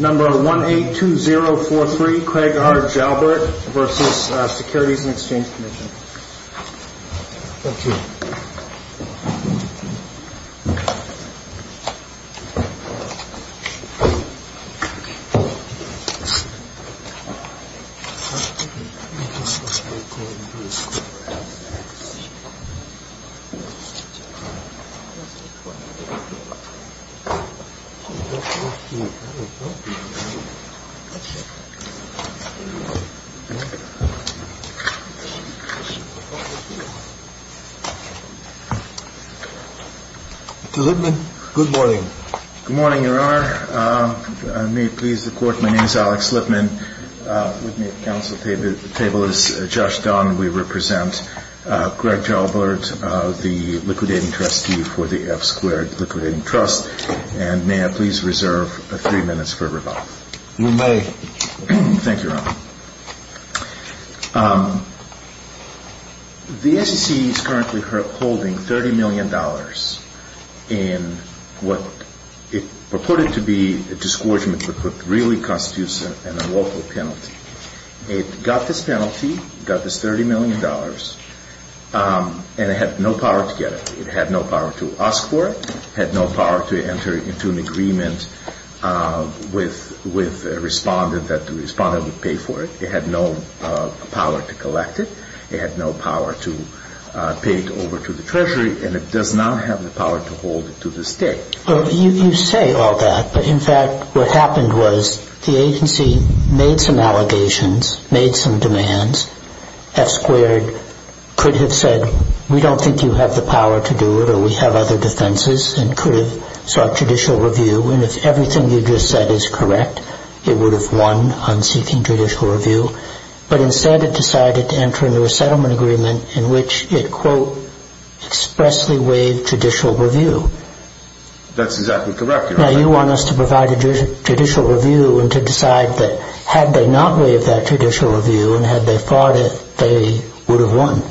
182043 Craig R. Jalbert v. Securities and Exchange Commission Good morning, Your Honor. May it please the Court, my name is Alex Lippman. With me at the council table is Josh Dunn. We represent Craig Jalbert, the liquidating trustee for the F-Squared Liquidating Trust, and may I please reserve three minutes for rebuttal? You may. Thank you, Your Honor. The SEC is currently holding $30 million in what it purported to be a disgorgement but really constitutes an unlawful penalty. It got this penalty, got this $30 million, and it had no power to get it. It had no power to ask for it, had no power to enter into an agreement with a respondent that the respondent would pay for it, it had no power to collect it, it had no power to pay it over to the Treasury, and it does not have the power to hold it to this day. Well, you say all that, but in fact what happened was the agency made some allegations, made some demands. F-Squared could have said, we don't think you have the power to do it, or we have other defenses, and could have sought judicial review, and if everything you just said is correct, it would have won on seeking judicial review. But instead it decided to enter into a settlement agreement in which it, quote, expressly waived judicial review. That's exactly correct, Your Honor. Now you want us to provide a judicial review and to decide that had they not waived that review, and had they fought it, they would have won.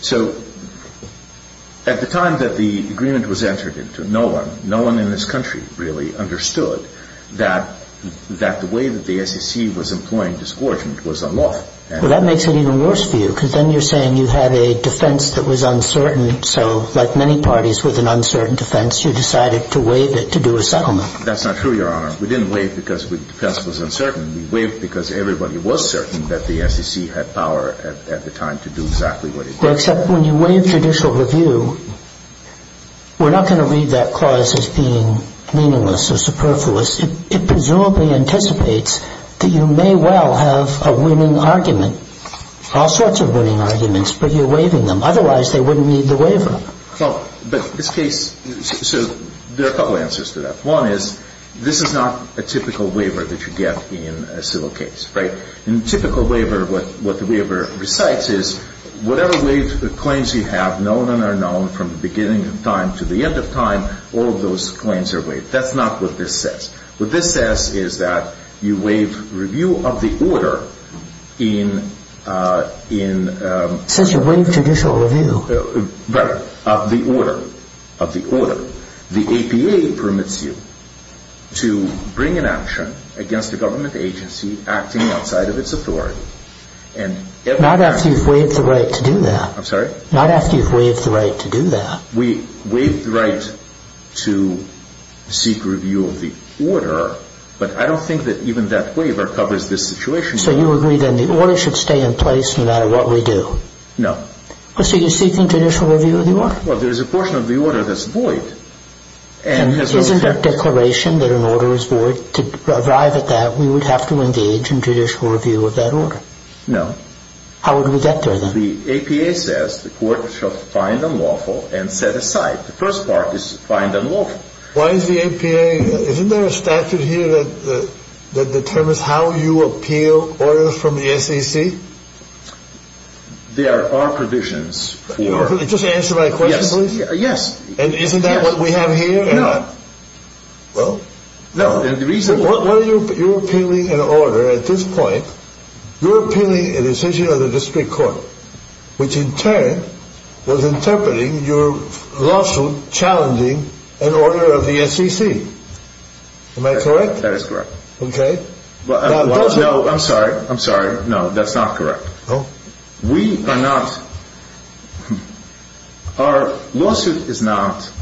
So at the time that the agreement was entered into, no one, no one in this country really understood that the way that the SEC was employing disgorgement was unlawful. Well, that makes it even worse for you, because then you're saying you have a defense that was uncertain, so like many parties with an uncertain defense, you decided to waive it to do a settlement. That's not true, Your Honor. We didn't waive because the defense was uncertain. We waived because everybody was certain that the SEC had power at the time to do exactly what it wanted. Except when you waive judicial review, we're not going to read that clause as being meaningless or superfluous. It presumably anticipates that you may well have a winning argument, all sorts of winning arguments, but you're waiving them. Otherwise, they wouldn't need the waiver. Well, but this case, so there are a couple answers to that. One is this is not a typical waiver that you get in a civil case, right? In a typical waiver, what the waiver recites is whatever claims you have, known and unknown, from the beginning of time to the end of time, all of those claims are waived. That's not what this says. What this says is that you waive review of the order in Since you waive judicial review. Right. Of the order. Of the order. The APA permits you to bring an action against a government agency acting outside of its authority. Not after you've waived the right to do that. I'm sorry? Not after you've waived the right to do that. We waive the right to seek review of the order, but I don't think that even that waiver covers this situation. So you agree that the order should stay in place no matter what we do? No. So you're seeking judicial review of the order? Well, there's a portion of the order that's void. Isn't there a declaration that an order is void? To arrive at that, we would have to engage in judicial review of that order. No. How would we get there, then? The APA says the court shall find unlawful and set aside. The first part is find unlawful. Why is the APA, isn't there a statute here that determines how you appeal orders from the SEC? There are provisions. Just answer my question, please. Yes. And isn't that what we have here? No. Well? No. You're appealing an order at this point. You're appealing a decision of the district court, which in turn was interpreting your lawsuit challenging an order of the SEC. Am I correct? That is correct. Okay. No, I'm sorry. I'm sorry. No, that's not correct. Oh. We are not. Our lawsuit is not,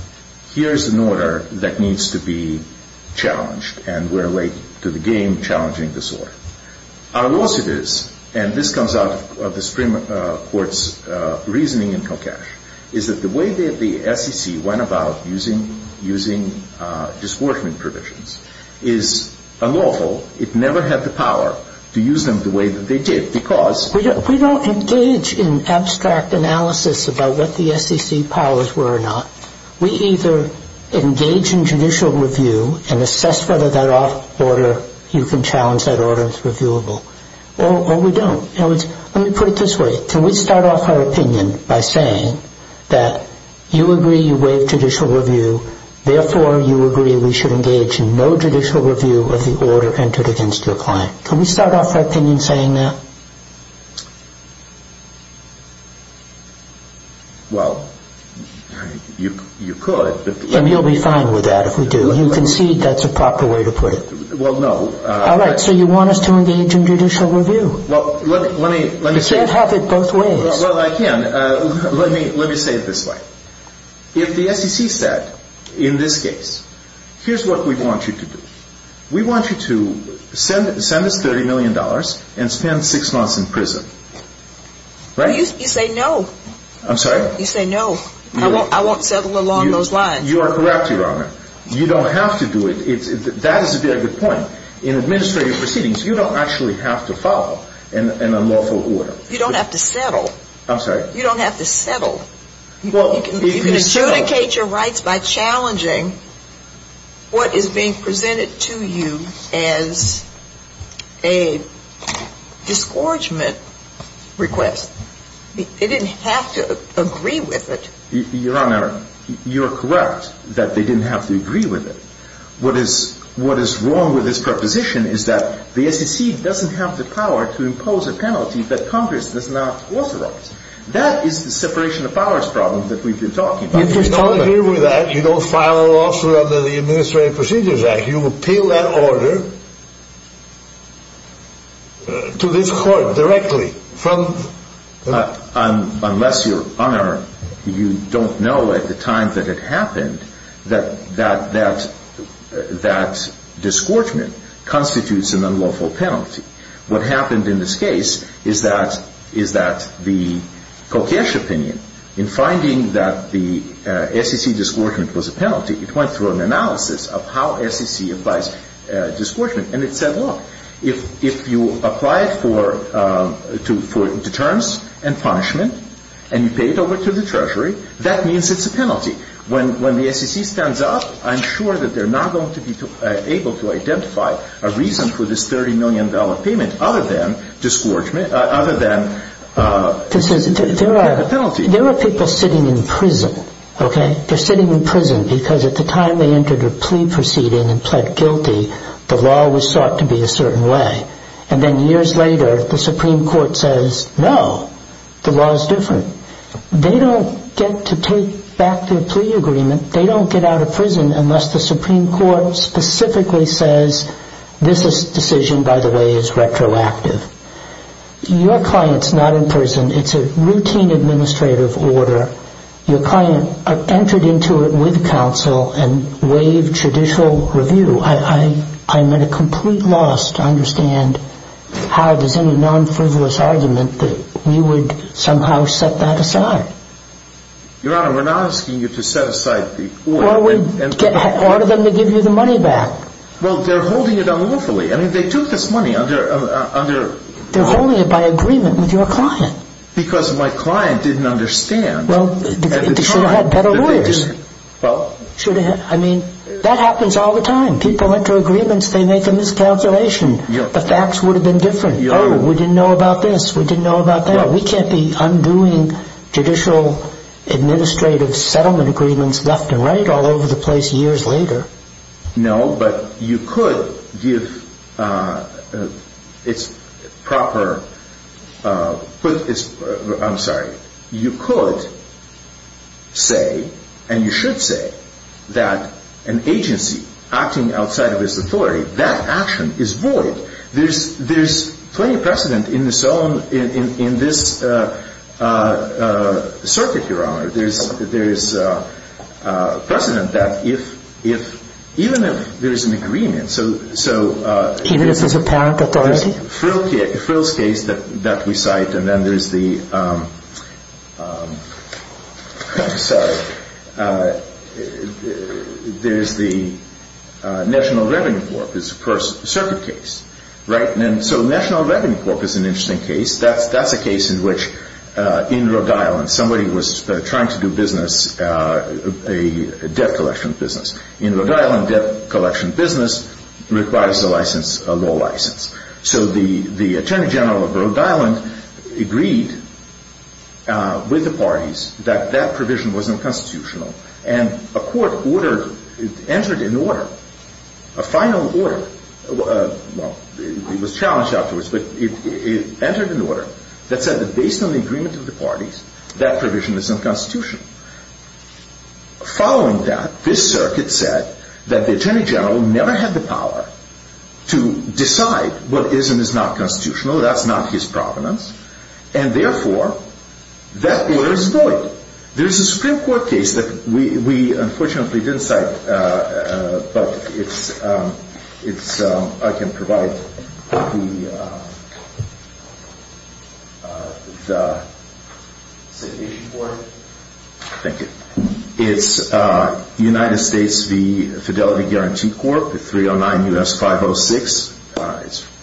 here's an order that needs to be challenged, and we're late to the game challenging this order. Our lawsuit is, and this comes out of the Supreme Court's reasoning in Kokesh, is that the way that the SEC went about using disbordment provisions is unlawful. It never had the power to use them the way that they did because We don't engage in abstract analysis about what the SEC powers were or not. We either engage in judicial review and assess whether that order, you can challenge that order as reviewable, or we don't. In other words, let me put it this way. Can we start off our opinion that you agree you waive judicial review, therefore you agree we should engage in no judicial review of the order entered against your client? Can we start off our opinion saying that? Well, you could. And you'll be fine with that if we do. You concede that's a proper way to put it. Well, no. All right. So you want us to engage in judicial review. Well, let me say. You can't have it both ways. Well, I can. Let me say it this way. If the SEC said, in this case, here's what we want you to do. We want you to send us $30 million and spend six months in prison, right? You say no. I'm sorry? You say no. I won't settle along those lines. You are correct, Your Honor. You don't have to do it. That is a very good point. In administrative proceedings, you don't actually have to follow an unlawful order. You don't have to settle. I'm sorry? You don't have to settle. Well, if you settle. You can adjudicate your rights by challenging what is being presented to you as a disgorgement request. They didn't have to agree with it. Your Honor, you are correct that they didn't have to agree with it. What is wrong with this proposition is that the SEC doesn't have the power to impose a penalty that Congress does not authorize. That is the separation of powers problem that we've been talking about. If you don't agree with that, you don't file a lawsuit under the Administrative Procedures Act, you appeal that order to this court directly. Unless, Your Honor, you don't know at the time that it happened that that disgorgement constitutes an unlawful penalty. What happened in this case is that the Kokesh opinion, in finding that the SEC disgorgement was a penalty, it went through an analysis of how you pay for deterrence and punishment, and you pay it over to the Treasury. That means it's a penalty. When the SEC stands up, I'm sure that they're not going to be able to identify a reason for this $30 million payment other than penalty. There are people sitting in prison, okay? They're sitting in prison because at the time they entered a plea proceeding and pled guilty, the law was sought to be a certain way. Then years later, the Supreme Court says, no, the law is different. They don't get to take back their plea agreement. They don't get out of prison unless the Supreme Court specifically says, this decision, by the way, is retroactive. Your client's not in prison. It's a routine administrative order. Your client entered into it with counsel and waived judicial review. I'm at a complete loss to understand how there's any non-frivolous argument that you would somehow set that aside. Your Honor, we're not asking you to set aside the order. Order them to give you the money back. Well, they're holding it unlawfully. I mean, they took this money under... They're holding it by agreement with your client. Because my client didn't understand... Well, they should have had better lawyers. I mean, that happens all the time. People enter agreements. They make a miscalculation. The facts would have been different. Oh, we didn't know about this. We didn't know about that. We can't be undoing judicial administrative settlement agreements left and right all over the place years later. No, but you could give... I'm sorry. You could say, and you should say, that an agency acting outside of its authority, that action is void. There's precedent that even if there's an agreement... Even if there's apparent authority? There's Frill's case that we cite, and then there's the... There's the National Revenue Corp. It's a circuit case. So National Revenue Corp. is an interesting case. That's a case in which in Rhode Island somebody was trying to do business, a debt collection business. In Rhode Island, debt collection business requires a license, a law license. So the Attorney General of Rhode Island agreed with the parties that that provision was unconstitutional. And a court entered an order, a final order. Well, it was challenged afterwards, but it entered an order that said that based on the agreement of the parties, that provision is unconstitutional. Following that, this circuit said that the Attorney General never had the power to decide what is and is not constitutional. That's not his provenance. And therefore, that order is void. There's a Supreme Court case that we unfortunately didn't cite, but I can provide the citation for it. Thank you. It's United States v. Fidelity Guarantee Corp., 309 U.S. 506.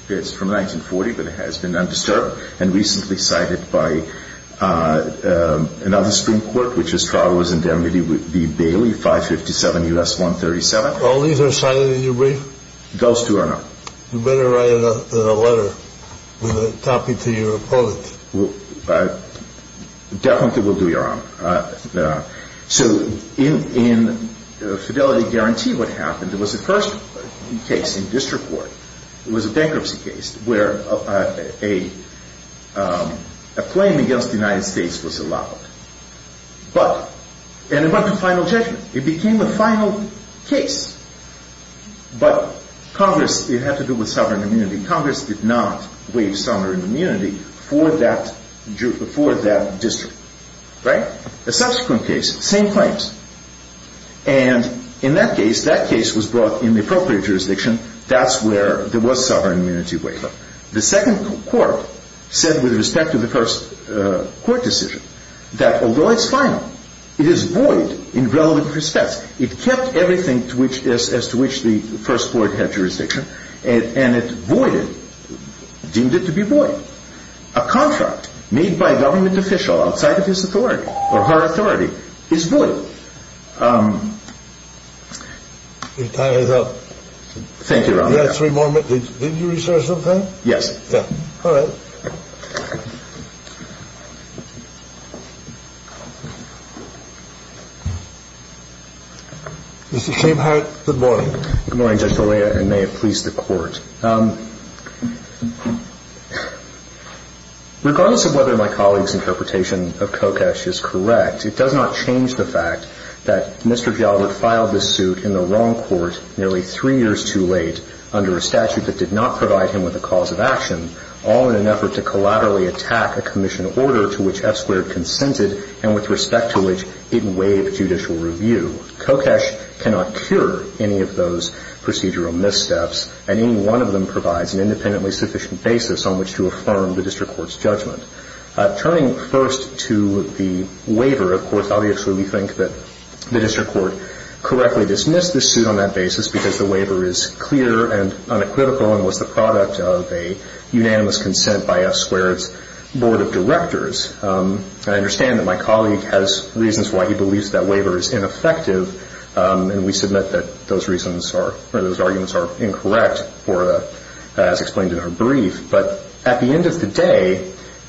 It's from 1940, but it has been undisturbed, and recently cited by another Supreme Court, which is Charles and Demedy v. Bailey, 557 U.S. 137. All these are cited in your brief? Those two are not. You better write a letter with a copy to your opponent. Definitely will do, Your Honor. So in Fidelity Guarantee, what happened, there was a first case in district court. It was a bankruptcy case where a claim against the United States was allowed. And it went to final judgment. It became the final case. But Congress, it had to do with sovereign immunity. Congress did not waive sovereign immunity for that district. The subsequent case, same claims. And in that case, that case was brought in the appropriate jurisdiction. That's where there was sovereign immunity waiver. The second court said, with respect to the first court decision, that although it's final, it is void in relevant respects. It kept everything as to which the first court had jurisdiction, and it voided, deemed it to be void. A contract made by a government official outside of his authority, or her authority, is void. Your time is up. Thank you, Your Honor. You had three more minutes. Did you research something? Yes. All right. Mr. Schabenhardt, good morning. Good morning, Judge Scalia, and may it please the Court. Regardless of whether my colleague's interpretation of Kokesh is correct, it does not change the fact that Mr. Gallagher filed this suit in the wrong court nearly three years too late under a statute that did not provide him with a cause of action, all in an effort to collaterally attack a commission order to which F-squared consented and with respect to which it waived judicial review. Kokesh cannot cure any of those procedural missteps, and any one of them provides an independently sufficient basis on which to affirm the district court's judgment. Turning first to the waiver, of course, obviously we think that the district court correctly dismissed this suit on that basis because the waiver is clear and unequivocal and was the product of a unanimous consent by F-squared's Board of Directors. I understand that my colleague has reasons why he believes that waiver is ineffective, and we submit that those reasons are, or those arguments are incorrect as explained in her brief. But at the end of the day,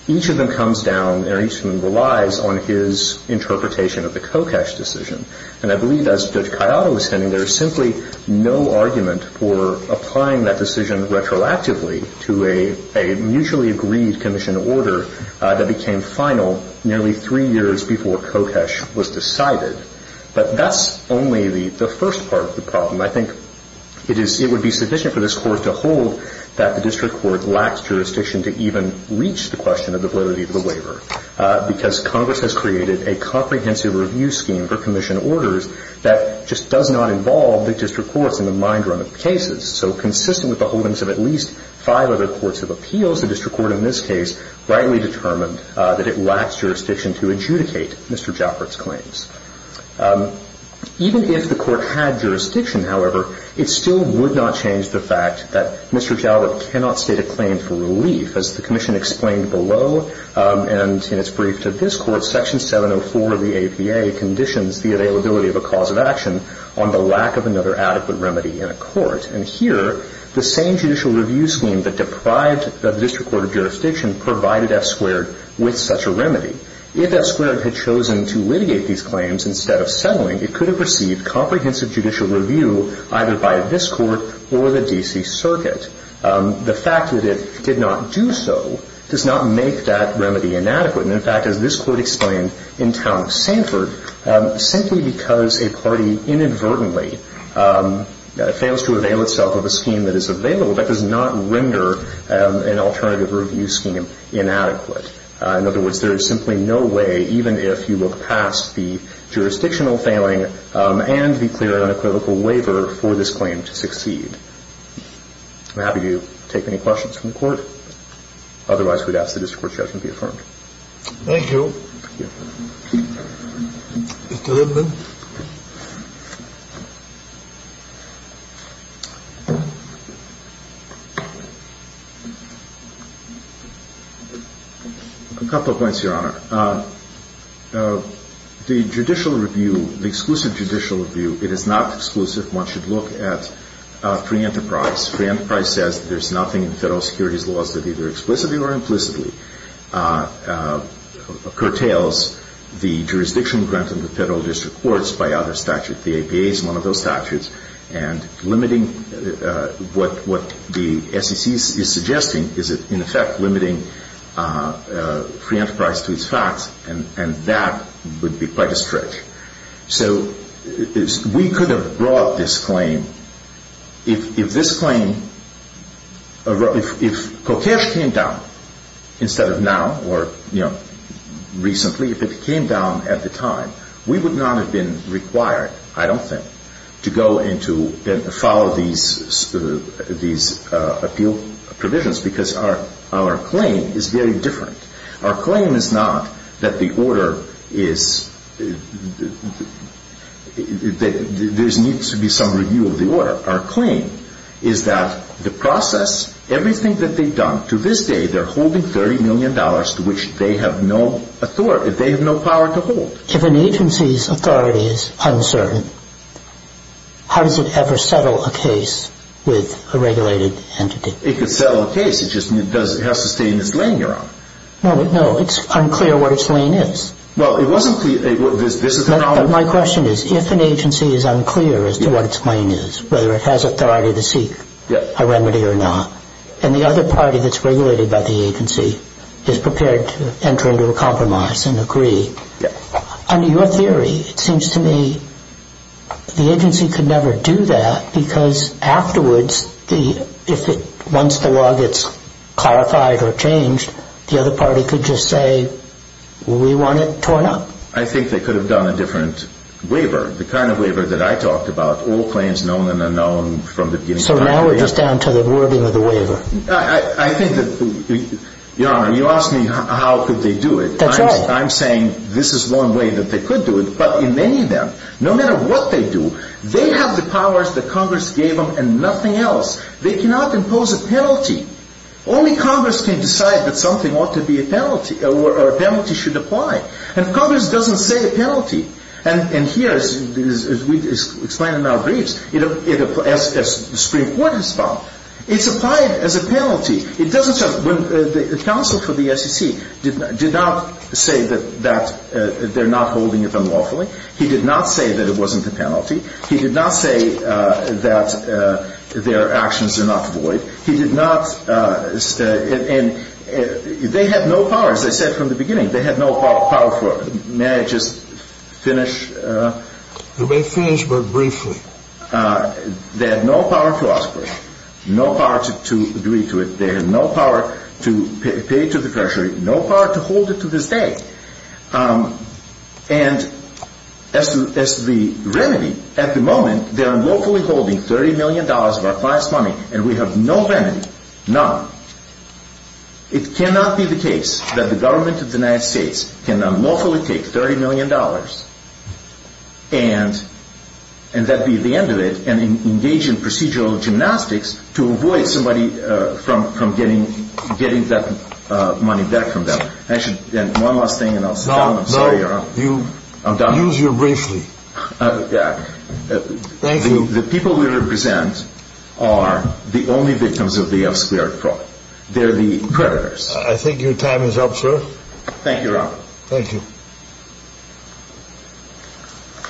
each of them comes down, or each of them relies on his interpretation of the Kokesh decision. And I believe, as Judge Cayado was saying, there is simply no argument for applying that decision retroactively to a mutually agreed commission order that became final nearly three years before Kokesh was decided. But that's only the first part of the problem. I think it would be sufficient for this Court to hold that the district court lacks jurisdiction to even reach the question of the validity of the waiver because Congress has created a comprehensive review scheme for commission orders that just does not involve the district courts in the mind run of cases. So consistent with the holdings of at least five other courts of appeals, the district court in this case rightly determined that it lacks jurisdiction to adjudicate Mr. Jalbert's claims. Even if the court had jurisdiction, however, it still would not change the fact that Mr. Jalbert cannot state a claim for relief. As the commission explained below and in its brief to this Court, Section 704 of the APA conditions the availability of a cause of action on the lack of another adequate remedy in a court. And here, the same judicial review scheme that deprived the district court of jurisdiction provided F squared with such a remedy. If F squared had chosen to litigate these claims instead of settling, it could have received comprehensive judicial review either by this Court or the D.C. Circuit. The fact that it did not do so does not make that remedy inadequate. And in fact, as this Court explained in Town of Sanford, simply because a party inadvertently fails to avail itself of a scheme that is available, that does not render an alternative review scheme inadequate. In other words, there is simply no way, even if you look past the jurisdictional failing and the clear and equivocal waiver for this claim to succeed. I'm happy to take any questions from the Court. Otherwise, we'd ask that the district court's judgment be affirmed. Thank you. A couple of points, Your Honor. The judicial review, the exclusive judicial review, it is not exclusive. One should look at free enterprise. Free enterprise says there's nothing in the federal securities laws that either explicitly or implicitly curtails the jurisdiction granted to the federal district courts by other statutes. The APA is one of those statutes. And limiting what the SEC is suggesting is, in effect, limiting free enterprise to its facts, and that would be quite a stretch. So we could have brought this claim, if this claim, if Kokesh came down instead of now or, you know, recently, if it came down at the time, we would not have been required, I don't think, to go and to follow these appeal provisions, because our claim is very different. Our claim is not that the order is, there needs to be some review of the order. Our claim is that the process, everything that they've done, to this day, they're holding $30 million to which they have no authority, they have no power to hold. If an agency's authority is uncertain, how does it ever settle a case with a regulated entity? It could settle a case. It just has to stay in its lane, your honor. No, it's unclear what its lane is. Well, it wasn't clear, this is the problem. My question is, if an agency is unclear as to what its lane is, whether it has authority to seek a remedy or not, and the other party that's regulated by the agency is prepared to enter into a compromise and agree, under your theory, it seems to me, the agency could never do that because afterwards, once the law gets clarified or changed, the other party could just say, we want it torn up. I think they could have done a different waiver, the kind of waiver that I talked about, all claims known and unknown from the beginning. So now we're just down to the wording of the waiver. I think that, your honor, you asked me how could they do it. That's right. I'm saying this is one way that they could do it, but in many of them, no matter what they do, they have the powers that Congress gave them and nothing else. They cannot impose a penalty. Only Congress can decide that something ought to be a penalty, or a penalty should apply. And Congress doesn't say a penalty. And here, as we explained in our briefs, as the Supreme Court has found, it's applied as a penalty. It doesn't say, when the counsel for the SEC did not say that they're not holding it unlawfully, he did not say that it wasn't a penalty, he did not say that their actions are not void, he did not say, and they had no power, as I said from the beginning, they had no power for it. May I just finish? You may finish, but briefly. They had no power to ask for it. No power to agree to it. They had no power to pay it to the Treasury. No power to hold it to this day. And as to the remedy, at the moment, they're unlawfully holding $30 million of our client's money, and we have no remedy, none. It cannot be the case that the government of the United States can unlawfully take $30 million and that be the end of it and engage in procedural gymnastics to avoid somebody from getting that money back from them. Actually, one last thing, and I'll sit down. I'm sorry, Your Honor. No, no. I'm done. Use your briefly. Thank you. The people we represent are the only victims of the F-squared fraud. They're the predators. I think your time is up, sir. Thank you, Your Honor. Thank you.